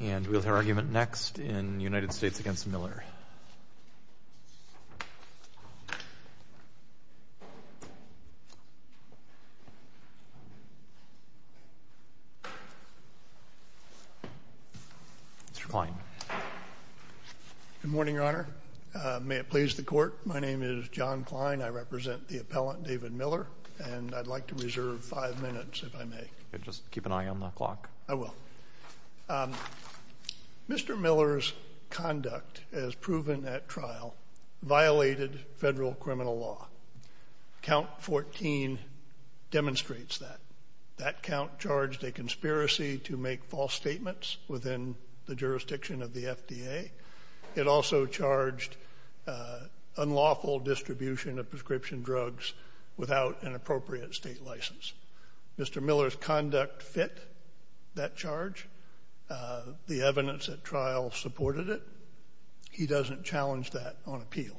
And we'll hear argument next in United States v. Miller. Mr. Kline. Good morning, Your Honor. May it please the Court, my name is John Kline. I represent the appellant David Miller, and I'd like to reserve five minutes if I may. Just keep an eye on the clock. I will. Mr. Miller's conduct as proven at trial violated federal criminal law. Count 14 demonstrates that. That count charged a conspiracy to make false statements within the jurisdiction of the FDA. It also charged unlawful distribution of prescription drugs without an appropriate state license. Mr. Miller's conduct fit that charge. The evidence at trial supported it. He doesn't challenge that on appeal.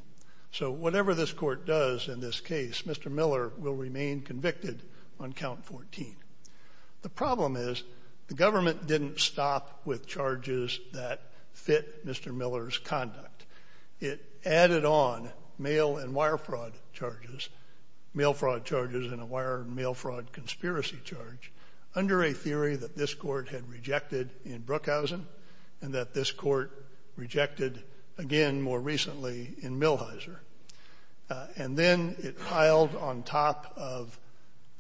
So whatever this Court does in this case, Mr. Miller will remain convicted on count 14. The problem is the government didn't stop with charges that fit Mr. Miller's conduct. It added on mail and wire fraud charges, mail fraud charges and a wire and mail fraud conspiracy charge under a theory that this Court had rejected in Brookhousen and that this Court rejected again more recently in Millhiser. And then it piled on top of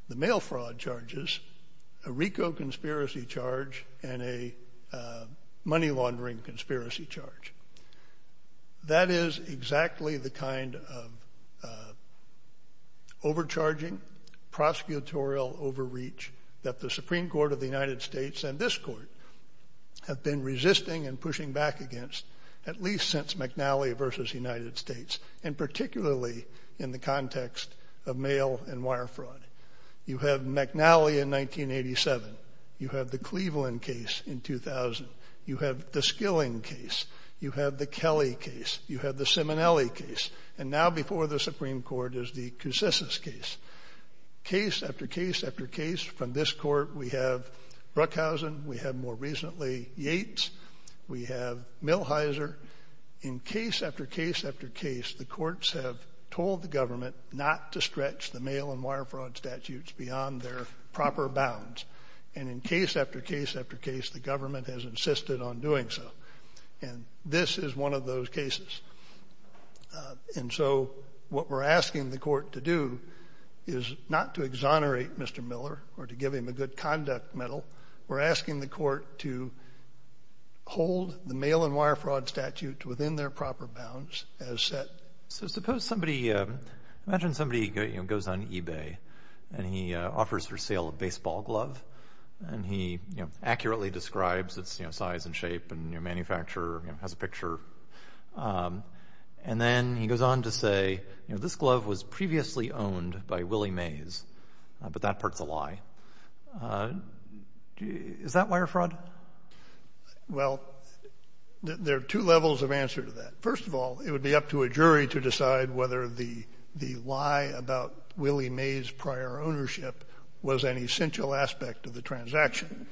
the mail fraud charges a RICO conspiracy charge and a money laundering conspiracy charge. That is exactly the kind of overcharging prosecutorial overreach that the Supreme Court of the United States and this Court have been resisting and pushing back against at least since McNally versus United States and particularly in the context of mail and wire fraud. You have McNally in 1987. You have the Cleveland case in 2000. You have the Skilling case. You have the Kelly case. You have the Simonelli case. And now before the Supreme Court is the Coussis case. Case after case after case from this Court, we have Brookhousen. We have more recently Yates. We have Millhiser. In case after case after case, the courts have told the government not to stretch the mail and wire fraud statutes beyond their proper bounds. And in case after case after case, the government has insisted on doing so. And this is one of those cases. And so what we're asking the Court to do is not to exonerate Mr. Miller or to give him a good conduct medal. We're asking the Court to hold the mail and wire fraud statute within their proper bounds as set. So suppose somebody, imagine somebody goes on eBay and he offers for sale a baseball glove and he accurately describes its size and shape and manufacturer, has a picture. And then he goes on to say this glove was previously owned by Willie Mays, but that part's a lie. Is that wire fraud? Well, there are two levels of answer to that. First of all, it would be up to a jury to decide whether the lie about Willie Mays' prior ownership was an essential aspect of the transaction.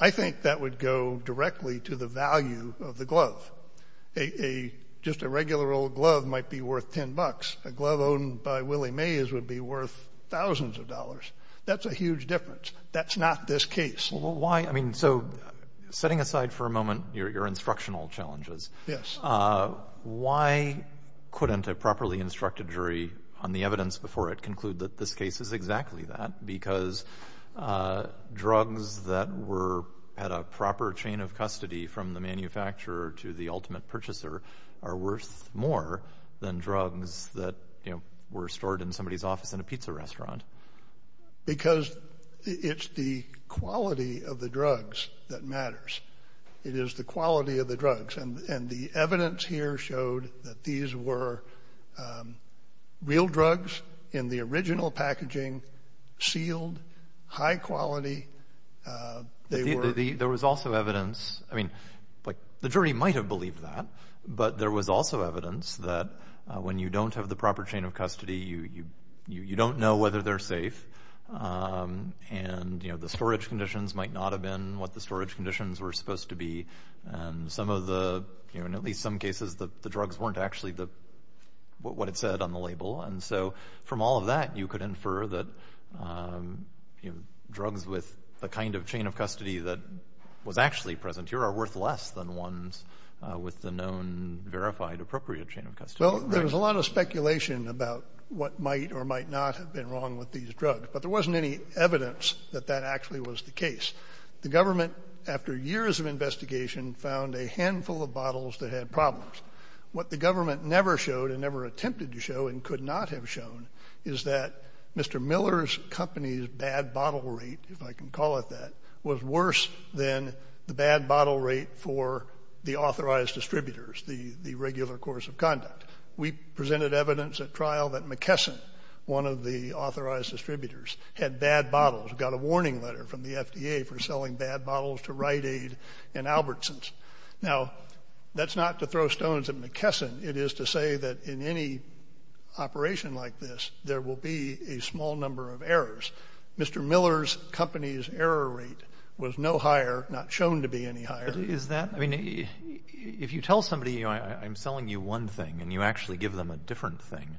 I think that would go directly to the value of the glove. Just a regular old glove might be worth 10 bucks. A glove owned by Willie Mays would be worth thousands of dollars. That's a huge difference. That's not this case. And so setting aside for a moment your instructional challenges. Why couldn't a properly instructed jury on the evidence before it conclude that this case is exactly that? Because drugs that had a proper chain of custody from the manufacturer to the ultimate purchaser are worth more than drugs that were stored in somebody's office in a pizza restaurant. Because it's the quality of the drugs that matters. It is the quality of the drugs. And the evidence here showed that these were real drugs in the original packaging, sealed, high quality. There was also evidence. I mean, the jury might have believed that. But there was also evidence that when you don't have the proper chain of custody, you don't know whether they're safe. And the storage conditions might not have been what the storage conditions were supposed to be. And some of the, in at least some cases, the drugs weren't actually what it said on the label. And so from all of that, you could infer that drugs with the kind of chain of custody that was actually present here are worth less than ones with the known verified appropriate chain of custody. Well, there was a lot of speculation about what might or might not have been wrong with these drugs. But there wasn't any evidence that that actually was the case. The government, after years of investigation, found a handful of bottles that had problems. What the government never showed and never attempted to show and could not have shown is that Mr. Miller's company's bad bottle rate, if I can call it that, was worse than the bad bottle rate for the authorized distributors, the regular course of conduct. We presented evidence at trial that McKesson, one of the authorized distributors, had bad bottles, got a warning letter from the FDA for selling bad bottles to Rite Aid and Albertsons. Now, that's not to throw stones at McKesson. It is to say that in any operation like this, there will be a small number of errors. Mr. Miller's company's error rate was no higher, not shown to be any higher. But is that—I mean, if you tell somebody, you know, I'm selling you one thing, and you actually give them a different thing,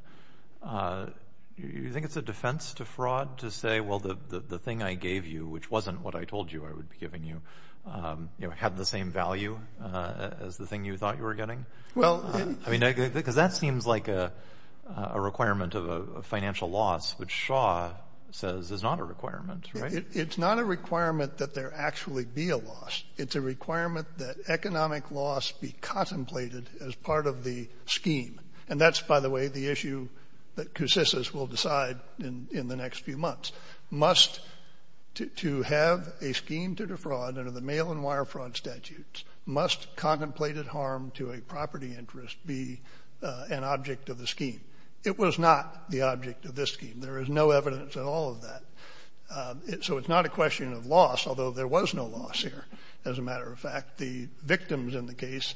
do you think it's a defense to fraud to say, well, the thing I gave you, which wasn't what I told you I would be giving you, you know, had the same value as the thing you thought you were getting? Well— I mean, because that seems like a requirement of a financial loss, which Shaw says is not a requirement, right? It's not a requirement that there actually be a loss. It's a requirement that economic loss be contemplated as part of the scheme. And that's, by the way, the issue that CUSCIS will decide in the next few months. It was not the object of this scheme. There is no evidence at all of that. So it's not a question of loss, although there was no loss here, as a matter of fact. The victims in the case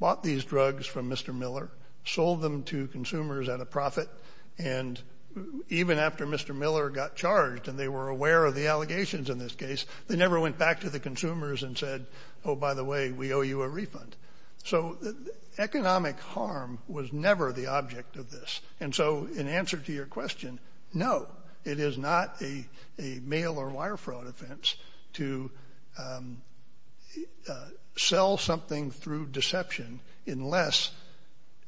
bought these drugs from Mr. Miller, sold them to consumers at a profit, and even after Mr. Miller got charged and they were aware of the allegations in this case, they never went back to the consumers and said, oh, by the way, we owe you a refund. So economic harm was never the object of this. And so in answer to your question, no, it is not a mail or wire fraud offense to sell something through deception unless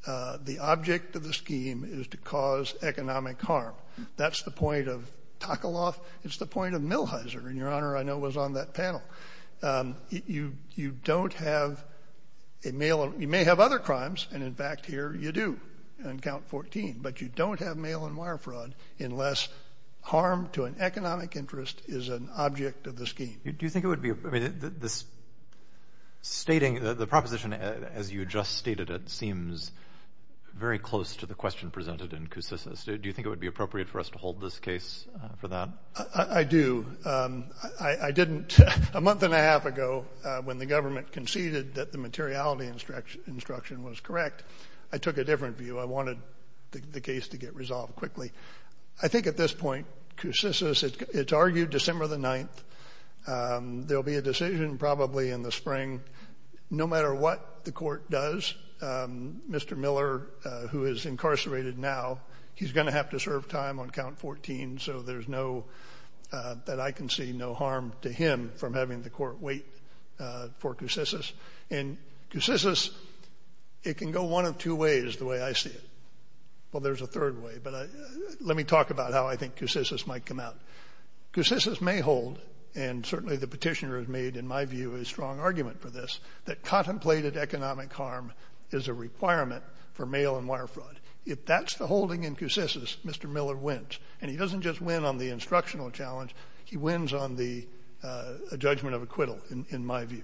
the object of the scheme is to cause economic harm. That's the point of Takaloff. It's the point of Millhiser, and Your Honor, I know, was on that panel. You don't have a mail. You may have other crimes. And in fact, here you do on count 14. But you don't have mail and wire fraud unless harm to an economic interest is an object of the scheme. Do you think it would be this? Stating the proposition, as you just stated, it seems very close to the question presented in Coussis. Do you think it would be appropriate for us to hold this case for that? I do. I didn't. A month and a half ago, when the government conceded that the materiality instruction was correct, I took a different view. I wanted the case to get resolved quickly. I think at this point, Coussis, it's argued December the 9th. There'll be a decision probably in the spring. No matter what the court does, Mr. Miller, who is incarcerated now, he's going to have to serve time on count 14. So there's no, that I can see no harm to him from having the court wait for Coussis. And Coussis, it can go one of two ways the way I see it. Well, there's a third way. But let me talk about how I think Coussis might come out. Coussis may hold, and certainly the petitioner has made, in my view, a strong argument for this, that contemplated economic harm is a requirement for mail and wire fraud. If that's the holding in Coussis, Mr. Miller wins. And he doesn't just win on the instructional challenge. He wins on the judgment of acquittal, in my view.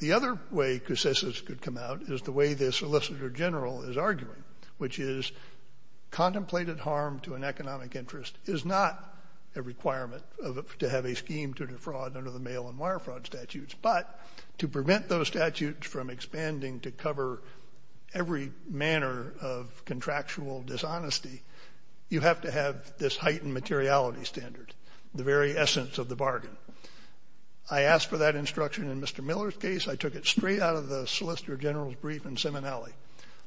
The other way Coussis could come out is the way the Solicitor General is arguing, which is contemplated harm to an economic interest is not a requirement to have a scheme to defraud under the mail and wire fraud statutes. But to prevent those statutes from expanding to cover every manner of contractual dishonesty, you have to have this heightened materiality standard, the very essence of the bargain. I asked for that instruction in Mr. Miller's case. I took it straight out of the Solicitor General's brief in Seminole.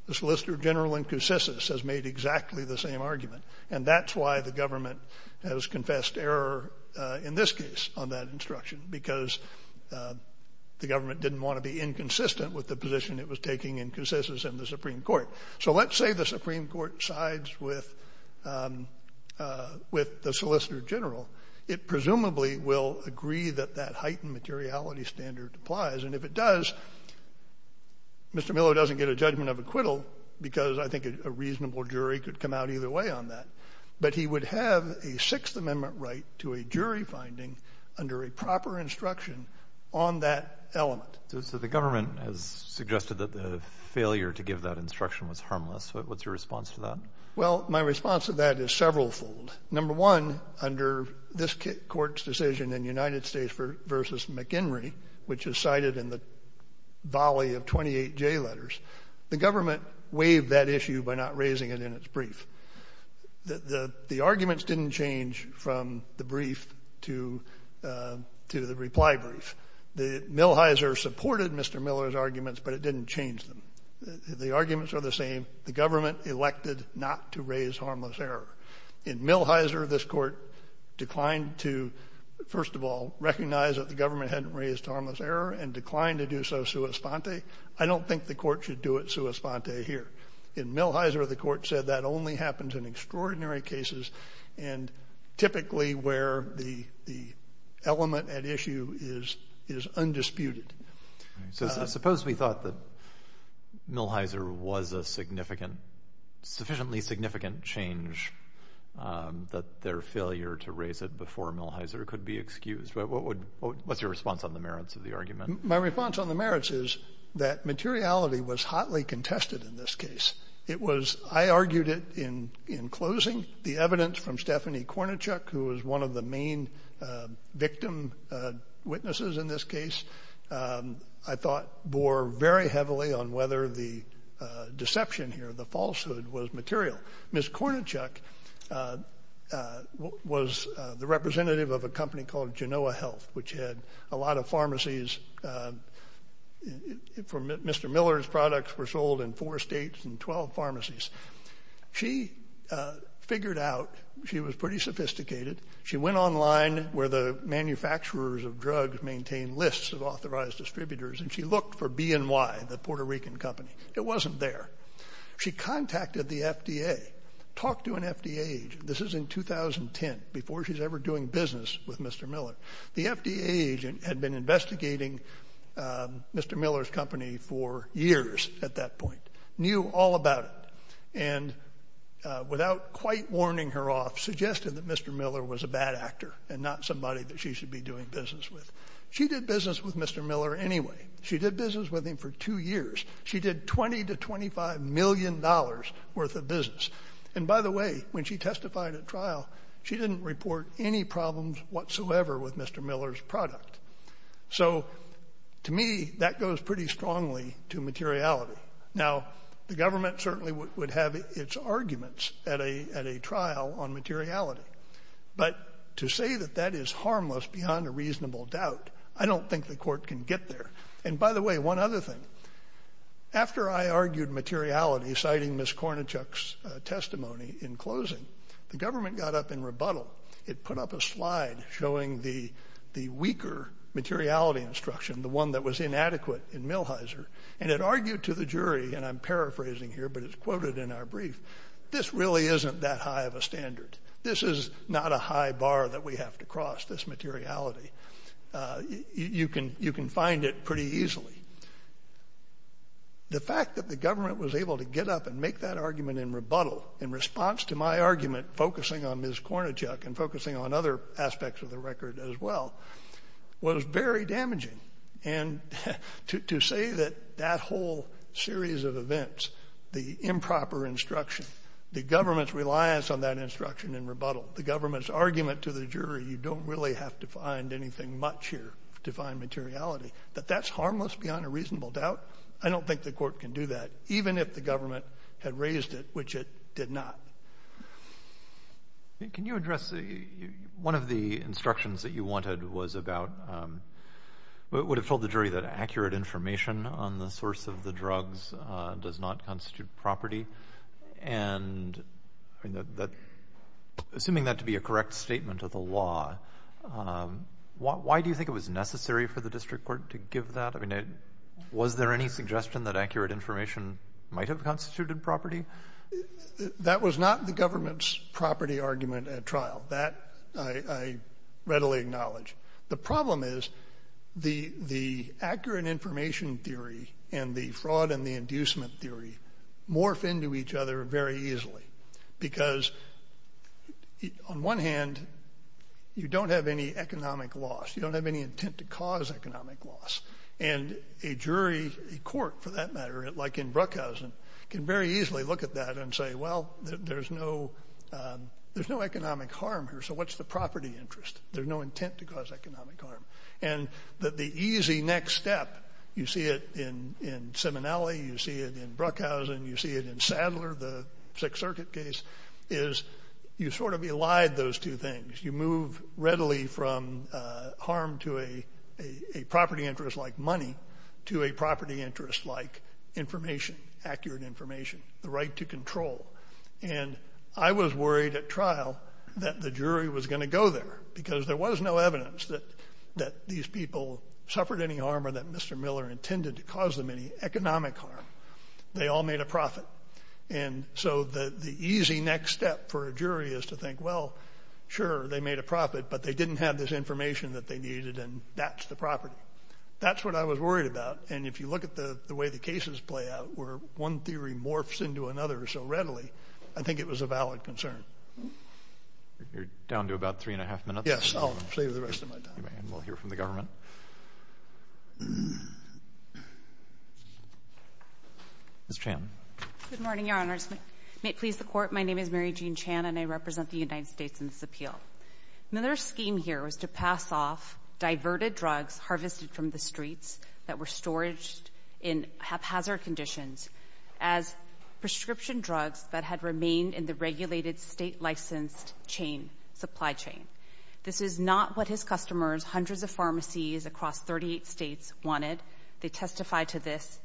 The Solicitor General in Coussis has made exactly the same argument. And that's why the government has confessed error in this case on that instruction, because the government didn't want to be inconsistent with the position it was taking in Coussis and the Supreme Court. So let's say the Supreme Court sides with the Solicitor General. It presumably will agree that that heightened materiality standard applies. And if it does, Mr. Miller doesn't get a judgment of acquittal, because I think a reasonable jury could come out either way on that. But he would have a Sixth Amendment right to a jury finding under a proper instruction on that element. So the government has suggested that the failure to give that instruction was harmless. What's your response to that? I supported Mr. Miller's arguments, but it didn't change them. The arguments are the same. The government elected not to raise harmless error. In Millhiser, this court declined to, first of all, recognize that the government hadn't raised harmless error and declined to do so sua sponte. I don't think the court should do it sua sponte here. In Millhiser, the court said that only happens in extraordinary cases and typically where the element at issue is undisputed. Suppose we thought that Millhiser was a sufficiently significant change that their failure to raise it before Millhiser could be excused. What's your response on the merits of the argument? My response on the merits is that materiality was hotly contested in this case. I argued it in closing. The evidence from Stephanie Kornichuk, who was one of the main victim witnesses in this case, I thought bore very heavily on whether the deception here, the falsehood, was material. Ms. Kornichuk was the representative of a company called Genoa Health, which had a lot of pharmacies. Mr. Miller's products were sold in four states and 12 pharmacies. She figured out, she was pretty sophisticated, she went online where the manufacturers of drugs maintain lists of authorized distributors and she looked for B&Y, the Puerto Rican company. It wasn't there. She contacted the FDA, talked to an FDA agent. This is in 2010, before she's ever doing business with Mr. Miller. The FDA agent had been investigating Mr. Miller's company for years at that point, knew all about it, and without quite warning her off suggested that Mr. Miller was a bad actor and not somebody that she should be doing business with. She did business with Mr. Miller anyway. She did business with him for two years. She did $20 to $25 million worth of business. And by the way, when she testified at trial, she didn't report any problems whatsoever with Mr. Miller's product. So, to me, that goes pretty strongly to materiality. Now, the government certainly would have its arguments at a trial on materiality, but to say that that is harmless beyond a reasonable doubt, I don't think the court can get there. And by the way, one other thing. After I argued materiality, citing Ms. Kornichuk's testimony in closing, the government got up in rebuttal. It put up a slide showing the weaker materiality instruction, the one that was inadequate in Millheiser, and it argued to the jury, and I'm paraphrasing here, but it's quoted in our brief, this really isn't that high of a standard. This is not a high bar that we have to cross, this materiality. You can find it pretty easily. The fact that the government was able to get up and make that argument in rebuttal in response to my argument focusing on Ms. Kornichuk and focusing on other aspects of the record as well was very damaging. And to say that that whole series of events, the improper instruction, the government's reliance on that instruction in rebuttal, the government's argument to the jury, you don't really have to find anything much here to find materiality, that that's harmless beyond a reasonable doubt, I don't think the court can do that, even if the government had raised it, which it did not. Can you address, one of the instructions that you wanted was about, would have told the jury that accurate information on the source of the drugs does not constitute property, and assuming that to be a correct statement of the law, why do you think it was necessary for the district court to give that? Was there any suggestion that accurate information might have constituted property? That was not the government's property argument at trial. That I readily acknowledge. The problem is the accurate information theory and the fraud and the inducement theory morph into each other very easily, because on one hand, you don't have any economic loss. You don't have any intent to cause economic loss. And a jury, a court for that matter, like in Bruckhausen, can very easily look at that and say, well, there's no economic harm here, so what's the property interest? There's no intent to cause economic harm. And the easy next step, you see it in Simonelli, you see it in Bruckhausen, you see it in Sadler, the Sixth Circuit case, is you sort of elide those two things. You move readily from harm to a property interest like money to a property interest like information, accurate information, the right to control. And I was worried at trial that the jury was going to go there, because there was no evidence that these people suffered any harm or that Mr. Miller intended to cause them any economic harm. They all made a profit. And so the easy next step for a jury is to think, well, sure, they made a profit, but they didn't have this information that they needed, and that's the property. That's what I was worried about. And if you look at the way the cases play out, where one theory morphs into another so readily, I think it was a valid concern. You're down to about three and a half minutes. Yes, I'll save the rest of my time. And we'll hear from the government. Ms. Chan. Good morning, Your Honors. May it please the Court, my name is Mary Jean Chan, and I represent the United States in this appeal. Miller's scheme here was to pass off diverted drugs harvested from the streets that were storaged in haphazard conditions as prescription drugs that had remained in the regulated state-licensed chain, supply chain. This is not what his customers, hundreds of pharmacies across 38 states, wanted. They testified to this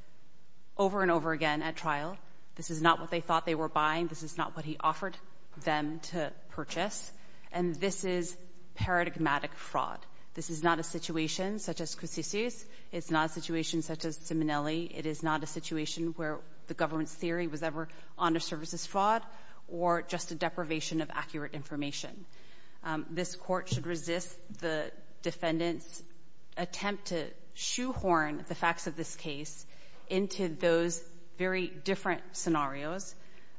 over and over again at trial. This is not what they thought they were buying. This is not what he offered them to purchase. And this is paradigmatic fraud. This is not a situation such as Cusicius. It's not a situation such as Simonelli. It is not a situation where the government's theory was ever honor services fraud or just a deprivation of accurate information. This Court should resist the defendant's attempt to shoehorn the facts of this case into those very different scenarios.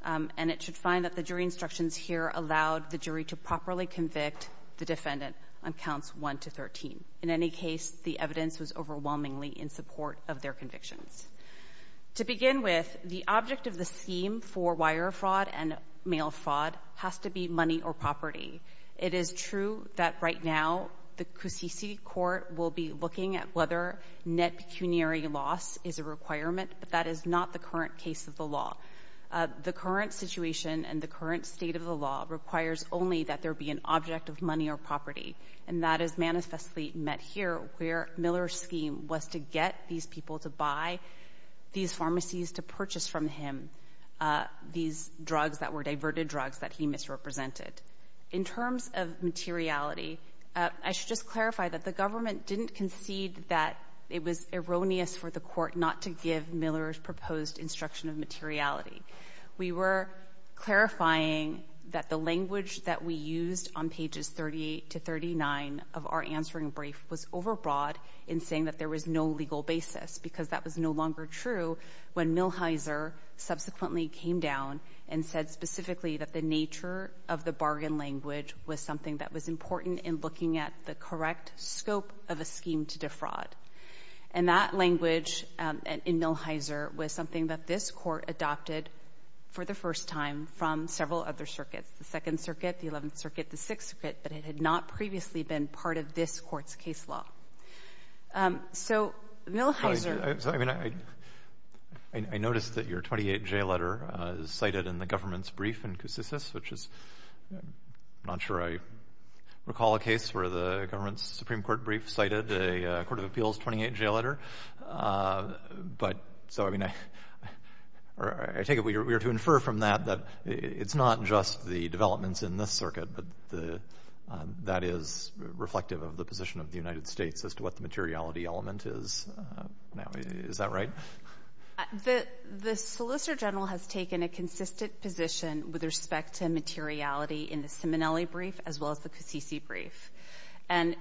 And it should find that the jury instructions here allowed the jury to properly convict the defendant on counts 1 to 13. In any case, the evidence was overwhelmingly in support of their convictions. To begin with, the object of the scheme for wire fraud and mail fraud has to be money or property. It is true that right now the Cusici Court will be looking at whether net pecuniary loss is a requirement, but that is not the current case of the law. The current situation and the current state of the law requires only that there be an object of money or property. And that is manifestly met here where Miller's scheme was to get these people to buy these pharmacies to purchase from him these drugs that were diverted drugs that he misrepresented. In terms of materiality, I should just clarify that the government didn't concede that it was erroneous for the Court not to give Miller's proposed instruction of materiality. We were clarifying that the language that we used on pages 38 to 39 of our answering brief was overbroad in saying that there was no legal basis because that was no longer true when Millhiser subsequently came down and said specifically that the nature of the bargain language was something that was important in looking at the correct scope of a scheme to defraud. And that language in Millhiser was something that this Court adopted for the first time from several other circuits. The Second Circuit, the Eleventh Circuit, the Sixth Circuit, but it had not previously been part of this Court's case law. So, Millhiser… I noticed that your 28-J letter is cited in the government's brief in Koussissis, which is not sure I recall a case where the government's Supreme Court brief cited a Court of Appeals 28-J letter. But, so, I mean, I take it we are to infer from that that it's not just the developments in this circuit, but that is reflective of the position of the United States as to what the materiality element is now. Is that right? The Solicitor General has taken a consistent position with respect to materiality in the Simonelli brief as well as the Koussissis brief. And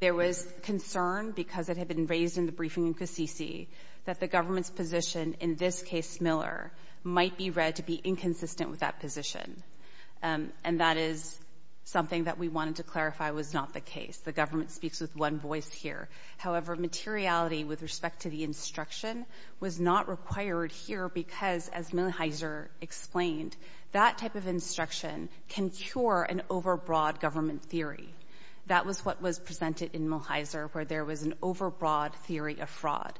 there was concern, because it had been raised in the briefing in Koussissis, that the government's position, in this case Miller, might be read to be inconsistent with that position. And that is something that we wanted to clarify was not the case. The government speaks with one voice here. However, materiality with respect to the instruction was not required here because, as Millhiser explained, that type of instruction can cure an overbroad government theory. That was what was presented in Millhiser, where there was an overbroad theory of fraud.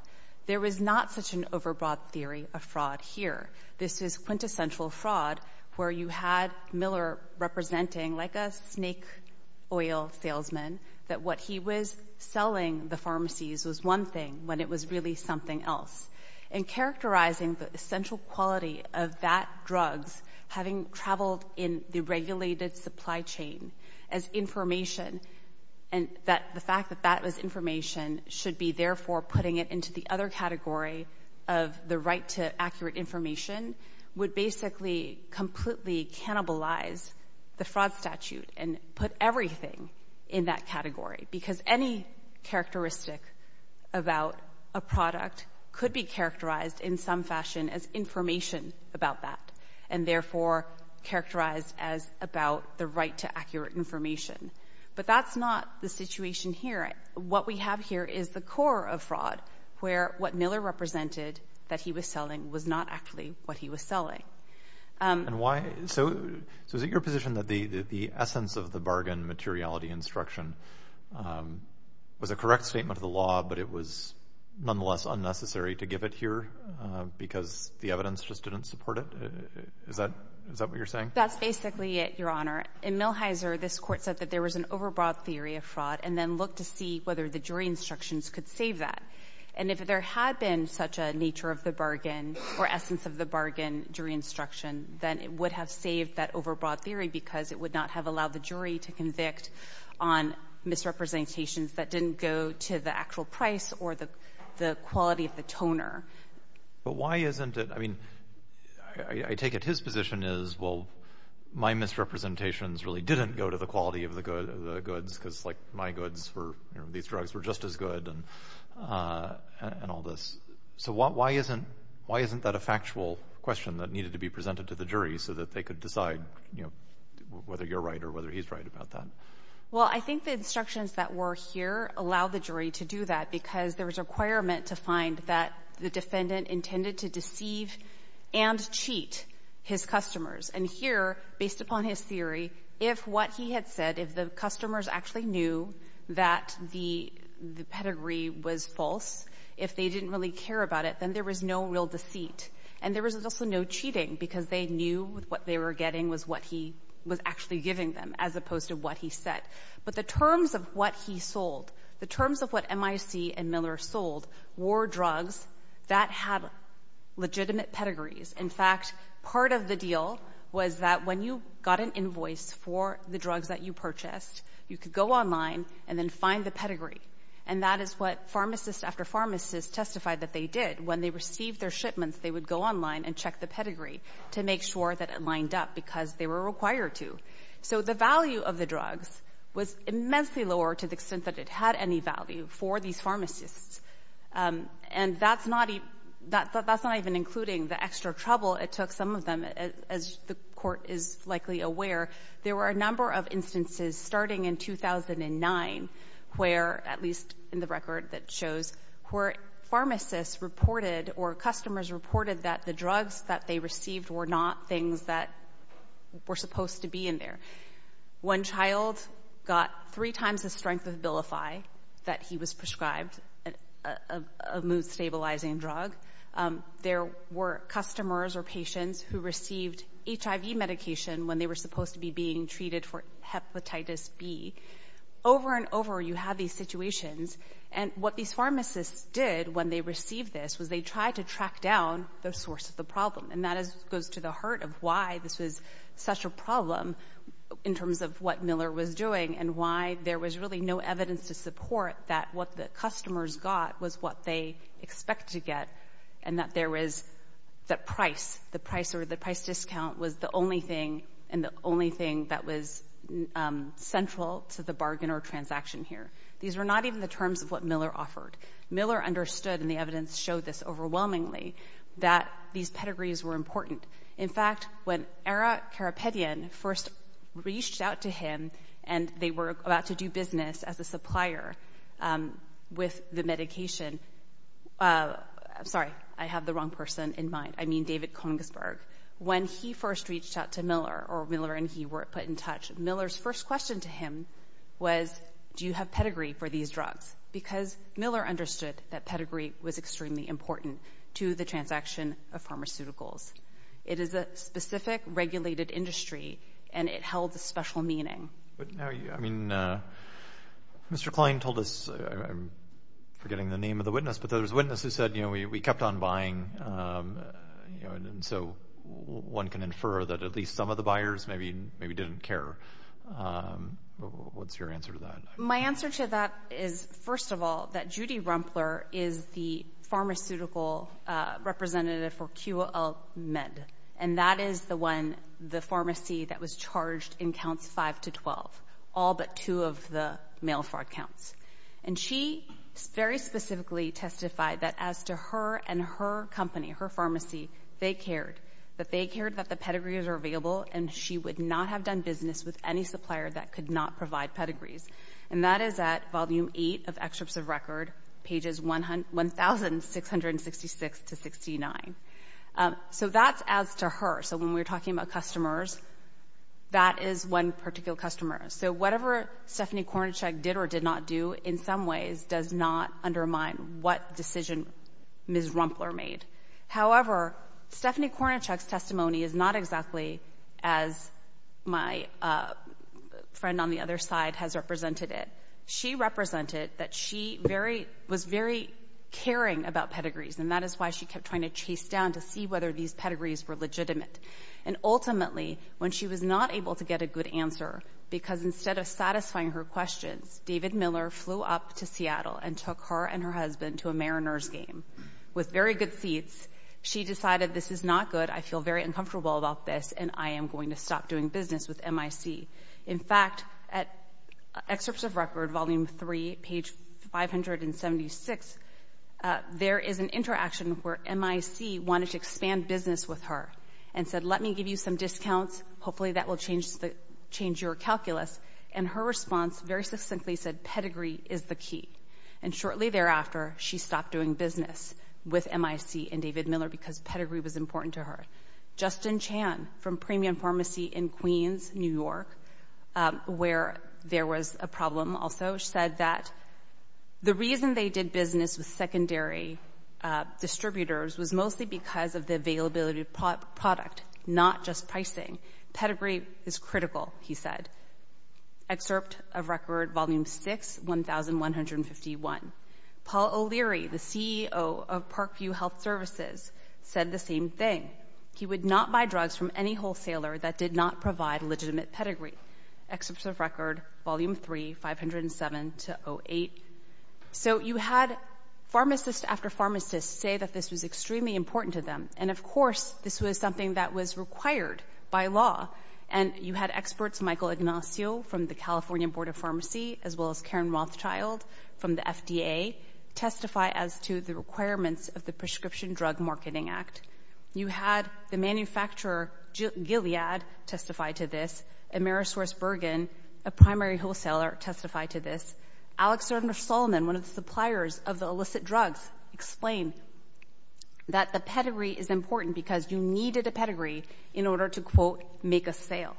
There was not such an overbroad theory of fraud here. This is quintessential fraud, where you had Miller representing, like a snake oil salesman, that what he was selling the pharmacies was one thing when it was really something else. And characterizing the essential quality of that drugs, having traveled in the regulated supply chain as information, and the fact that that was information should be, therefore, putting it into the other category of the right to accurate information, would basically completely cannibalize the fraud statute and put everything in that category. Because any characteristic about a product could be characterized in some fashion as information about that, and therefore characterized as about the right to accurate information. But that's not the situation here. What we have here is the core of fraud, where what Miller represented that he was selling was not actually what he was selling. So is it your position that the essence of the bargain materiality instruction was a correct statement of the law, but it was nonetheless unnecessary to give it here because the evidence just didn't support it? Is that what you're saying? That's basically it, Your Honor. In Millhiser, this court said that there was an overbroad theory of fraud and then looked to see whether the jury instructions could save that. And if there had been such a nature of the bargain or essence of the bargain during instruction, then it would have saved that overbroad theory because it would not have allowed the jury to convict on misrepresentations that didn't go to the actual price or the quality of the toner. But why isn't it—I mean, I take it his position is, well, my misrepresentations really didn't go to the quality of the goods because, like, my goods were—these drugs were just as good and all this. So why isn't that a factual question that needed to be presented to the jury so that they could decide, you know, whether you're right or whether he's right about that? Well, I think the instructions that were here allow the jury to do that because there was a requirement to find that the defendant intended to deceive and cheat his customers. And here, based upon his theory, if what he had said, if the customers actually knew that the pedigree was false, if they didn't really care about it, then there was no real deceit. And there was also no cheating because they knew what they were getting was what he was actually giving them as opposed to what he said. But the terms of what he sold, the terms of what MIC and Miller sold were drugs that had legitimate pedigrees. In fact, part of the deal was that when you got an invoice for the drugs that you purchased, you could go online and then find the pedigree. And that is what pharmacist after pharmacist testified that they did. When they received their shipments, they would go online and check the pedigree to make sure that it lined up because they were required to. So the value of the drugs was immensely lower to the extent that it had any value for these pharmacists. And that's not even including the extra trouble it took some of them. As the court is likely aware, there were a number of instances starting in 2009 where, at least in the record that shows, where pharmacists reported or customers reported that the drugs that they received were not things that were supposed to be in there. One child got three times the strength of Bilify that he was prescribed, a mood-stabilizing drug. There were customers or patients who received HIV medication when they were supposed to be being treated for Hepatitis B. Over and over, you have these situations. And what these pharmacists did when they received this was they tried to track down the source of the problem. And that goes to the heart of why this was such a problem in terms of what Miller was doing and why there was really no evidence to support that what the customers got was what they expected to get and that there was that price, the price or the price discount was the only thing and the only thing that was central to the bargain or transaction here. These were not even the terms of what Miller offered. Miller understood, and the evidence showed this overwhelmingly, that these pedigrees were important. In fact, when Ara Karapetyan first reached out to him and they were about to do business as a supplier with the medication, I'm sorry, I have the wrong person in mind. I mean David Kongsberg. When he first reached out to Miller or Miller and he were put in touch, Miller's first question to him was, do you have pedigree for these drugs? Because Miller understood that pedigree was extremely important to the transaction of pharmaceuticals. It is a specific regulated industry and it held a special meaning. But now, I mean, Mr. Klein told us, I'm forgetting the name of the witness, but there was a witness who said, you know, we kept on buying, you know, and so one can infer that at least some of the buyers maybe didn't care. What's your answer to that? My answer to that is, first of all, that Judy Rumpler is the pharmaceutical representative for QL Med, and that is the one, the pharmacy that was charged in counts 5 to 12, all but two of the male fraud counts. And she very specifically testified that as to her and her company, her pharmacy, they cared. That they cared that the pedigrees were available, and she would not have done business with any supplier that could not provide pedigrees. And that is at Volume 8 of Excerpts of Record, pages 1,666 to 69. So that's as to her. So when we're talking about customers, that is one particular customer. So whatever Stephanie Kornacek did or did not do, in some ways, does not undermine what decision Ms. Rumpler made. However, Stephanie Kornacek's testimony is not exactly as my friend on the other side has represented it. She represented that she was very caring about pedigrees, and that is why she kept trying to chase down to see whether these pedigrees were legitimate. And ultimately, when she was not able to get a good answer, because instead of satisfying her questions, David Miller flew up to Seattle and took her and her husband to a Mariners game with very good seats. She decided, this is not good, I feel very uncomfortable about this, and I am going to stop doing business with MIC. In fact, at Excerpts of Record, Volume 3, page 576, there is an interaction where MIC wanted to expand business with her and said, let me give you some discounts, hopefully that will change your calculus. And her response very succinctly said, pedigree is the key. And shortly thereafter, she stopped doing business with MIC and David Miller because pedigree was important to her. Justin Chan from Premium Pharmacy in Queens, New York, where there was a problem also, said that the reason they did business with secondary distributors was mostly because of the availability of product, not just pricing. Pedigree is critical, he said. Excerpt of Record, Volume 6, 1151. Paul O'Leary, the CEO of Parkview Health Services, said the same thing. He would not buy drugs from any wholesaler that did not provide legitimate pedigree. Excerpts of Record, Volume 3, 507-08. So you had pharmacists after pharmacists say that this was extremely important to them, and of course this was something that was required by law. And you had experts, Michael Ignacio from the California Board of Pharmacy, as well as Karen Rothschild from the FDA, testify as to the requirements of the Prescription Drug Marketing Act. You had the manufacturer, Gilead, testify to this. Amerisource Bergen, a primary wholesaler, testified to this. Alexander Solomon, one of the suppliers of the illicit drugs, explained that the pedigree is important because you needed a pedigree in order to, quote, make a sale.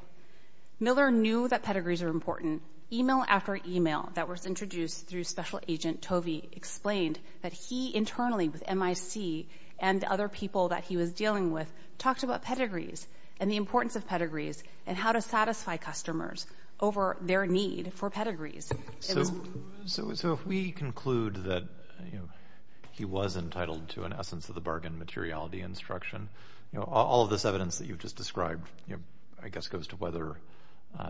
Miller knew that pedigrees are important. Email after email that was introduced through Special Agent Tovey explained that he internally with MIC and other people that he was dealing with talked about pedigrees and the importance of pedigrees and how to satisfy customers over their need for pedigrees. So if we conclude that he was entitled to, in essence, the bargain materiality instruction, all of this evidence that you've just described, I guess, goes to whether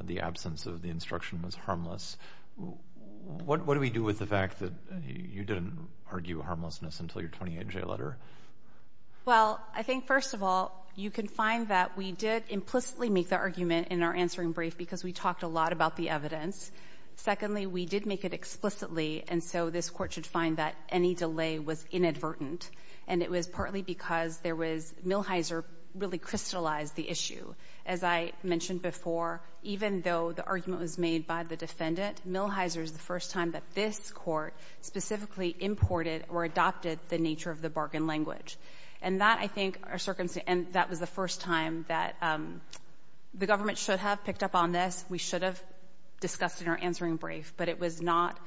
the absence of the instruction was harmless. What do we do with the fact that you didn't argue harmlessness until your 28-J letter? Well, I think, first of all, you can find that we did implicitly make the argument in our answering brief because we talked a lot about the evidence. Secondly, we did make it explicitly, and so this court should find that any delay was inadvertent. And it was partly because Millhiser really crystallized the issue. As I mentioned before, even though the argument was made by the defendant, Millhiser is the first time that this court specifically imported or adopted the nature of the bargain language. And that, I think, was the first time that the government should have picked up on this. We should have discussed it in our answering brief, but it was not,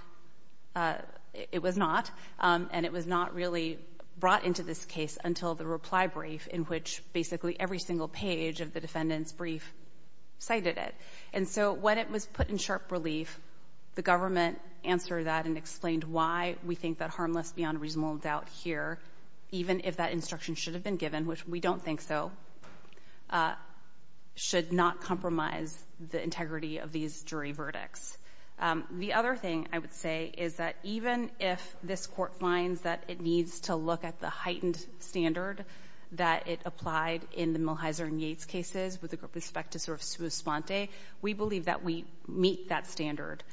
and it was not really brought into this case until the reply brief in which basically every single page of the defendant's brief cited it. And so when it was put in sharp relief, the government answered that and explained why we think that harmless beyond reasonable doubt here, even if that instruction should have been given, which we don't think so, should not compromise the integrity of these jury verdicts. The other thing I would say is that even if this court finds that it needs to look at the heightened standard that it applied in the Millhiser and Yates cases with respect to sort of sua sponte, we believe that we meet that standard.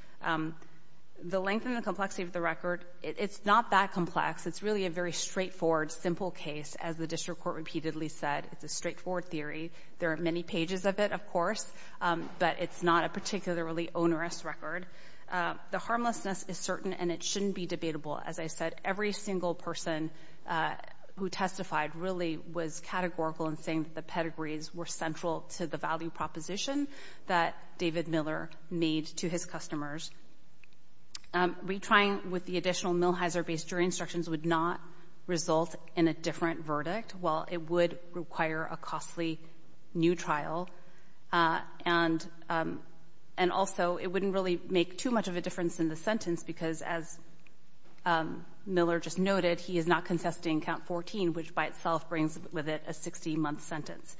The length and the complexity of the record, it's not that complex. It's really a very straightforward, simple case. As the district court repeatedly said, it's a straightforward theory. There are many pages of it, of course, but it's not a particularly onerous record. The harmlessness is certain, and it shouldn't be debatable. As I said, every single person who testified really was categorical in saying that the pedigrees were central to the value proposition that David Miller made to his customers. Retrying with the additional Millhiser-based jury instructions would not result in a different verdict. While it would require a costly new trial, and also it wouldn't really make too much of a difference in the sentence because, as Miller just noted, he is not contesting count 14, which by itself brings with it a 60-month sentence.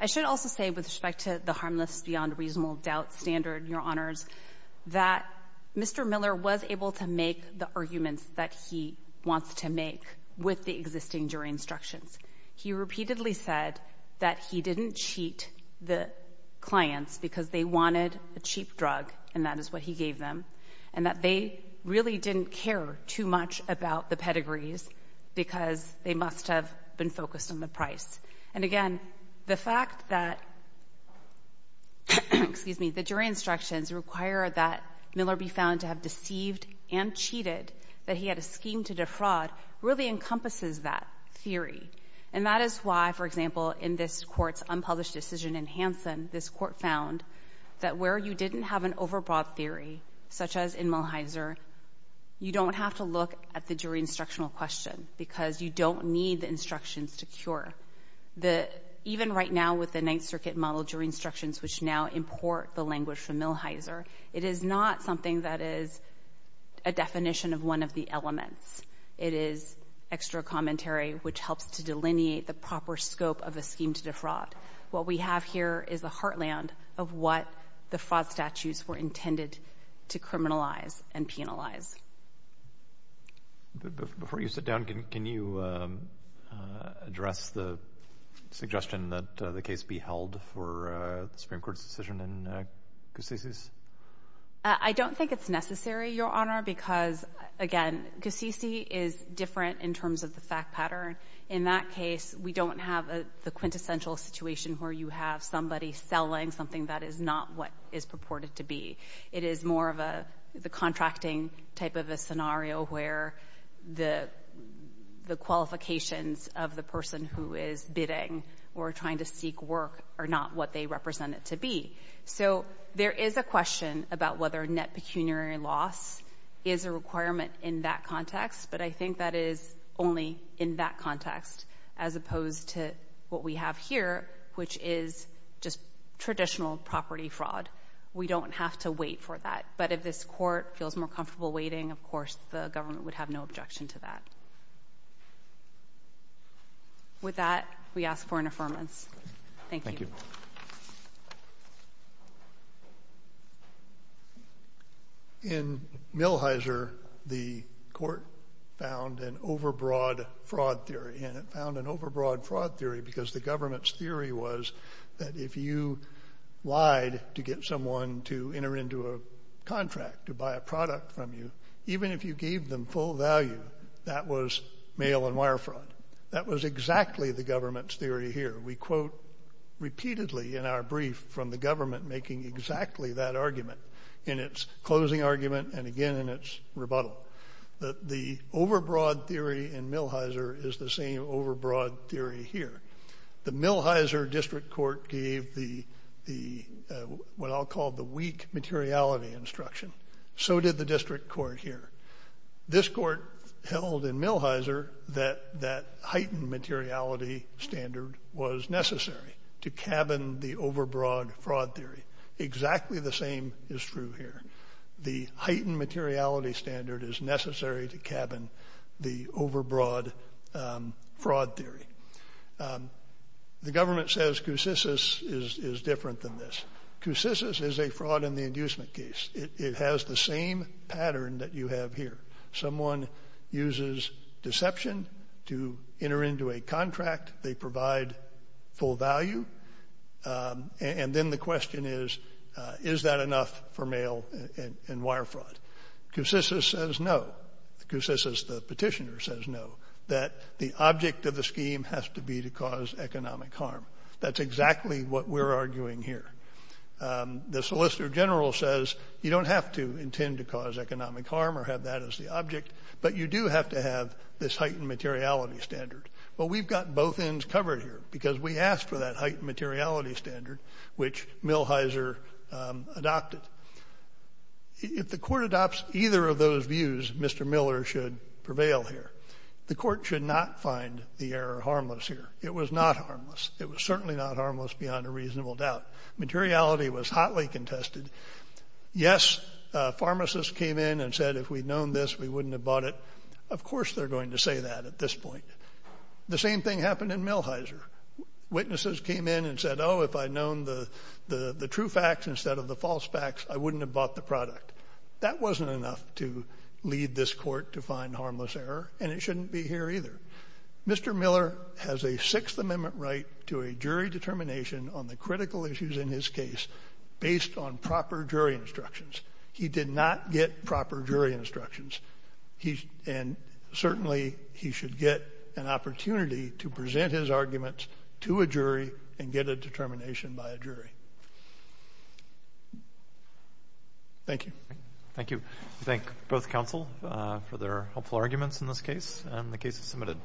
I should also say with respect to the harmless beyond reasonable doubt standard, that Mr. Miller was able to make the arguments that he wants to make with the existing jury instructions. He repeatedly said that he didn't cheat the clients because they wanted a cheap drug, and that is what he gave them, and that they really didn't care too much about the pedigrees because they must have been focused on the price. And again, the fact that the jury instructions require that Miller be found to have deceived and cheated that he had a scheme to defraud really encompasses that theory. And that is why, for example, in this Court's unpublished decision in Hansen, this Court found that where you didn't have an overbought theory, such as in Millhiser, you don't have to look at the jury instructional question because you don't need the instructions to cure. Even right now with the Ninth Circuit model jury instructions, which now import the language from Millhiser, it is not something that is a definition of one of the elements. It is extra commentary, which helps to delineate the proper scope of a scheme to defraud. What we have here is the heartland of what the fraud statutes were intended to criminalize and penalize. Before you sit down, can you address the suggestion that the case be held for the Supreme Court's decision in Gassisi's? I don't think it's necessary, Your Honor, because, again, Gassisi is different in terms of the fact pattern. In that case, we don't have the quintessential situation where you have somebody selling something that is not what is purported to be. It is more of the contracting type of a scenario where the qualifications of the person who is bidding or trying to seek work are not what they represent it to be. So there is a question about whether net pecuniary loss is a requirement in that context, but I think that is only in that context as opposed to what we have here, which is just traditional property fraud. We don't have to wait for that. But if this court feels more comfortable waiting, of course, the government would have no objection to that. With that, we ask for an affirmance. Thank you. Thank you. In Millhiser, the court found an overbroad fraud theory, and it found an overbroad fraud theory because the government's theory was that if you lied to get someone to enter into a contract to buy a product from you, even if you gave them full value, that was mail and wire fraud. That was exactly the government's theory here. We quote repeatedly in our brief from the government making exactly that argument in its closing argument and again in its rebuttal that the overbroad theory in Millhiser is the same overbroad theory here. The Millhiser District Court gave what I'll call the weak materiality instruction. So did the district court here. This court held in Millhiser that that heightened materiality standard was necessary to cabin the overbroad fraud theory. Exactly the same is true here. The heightened materiality standard is necessary to cabin the overbroad fraud theory. The government says CUSCIS is different than this. CUSCIS is a fraud in the inducement case. It has the same pattern that you have here. Someone uses deception to enter into a contract. They provide full value, and then the question is, is that enough for mail and wire fraud? CUSCIS says no. CUSCIS, the petitioner, says no, that the object of the scheme has to be to cause economic harm. That's exactly what we're arguing here. The solicitor general says you don't have to intend to cause economic harm or have that as the object, but you do have to have this heightened materiality standard. Well, we've got both ends covered here because we asked for that heightened materiality standard, which Millhiser adopted. If the court adopts either of those views, Mr. Miller should prevail here. The court should not find the error harmless here. It was not harmless. It was certainly not harmless beyond a reasonable doubt. Materiality was hotly contested. Yes, pharmacists came in and said if we'd known this, we wouldn't have bought it. Of course they're going to say that at this point. The same thing happened in Millhiser. Witnesses came in and said, oh, if I'd known the true facts instead of the false facts, I wouldn't have bought the product. That wasn't enough to lead this court to find harmless error, and it shouldn't be here either. Mr. Miller has a Sixth Amendment right to a jury determination on the critical issues in his case based on proper jury instructions. He did not get proper jury instructions. And certainly he should get an opportunity to present his arguments to a jury and get a determination by a jury. Thank you. Thank you. I thank both counsel for their helpful arguments in this case, and the case is submitted.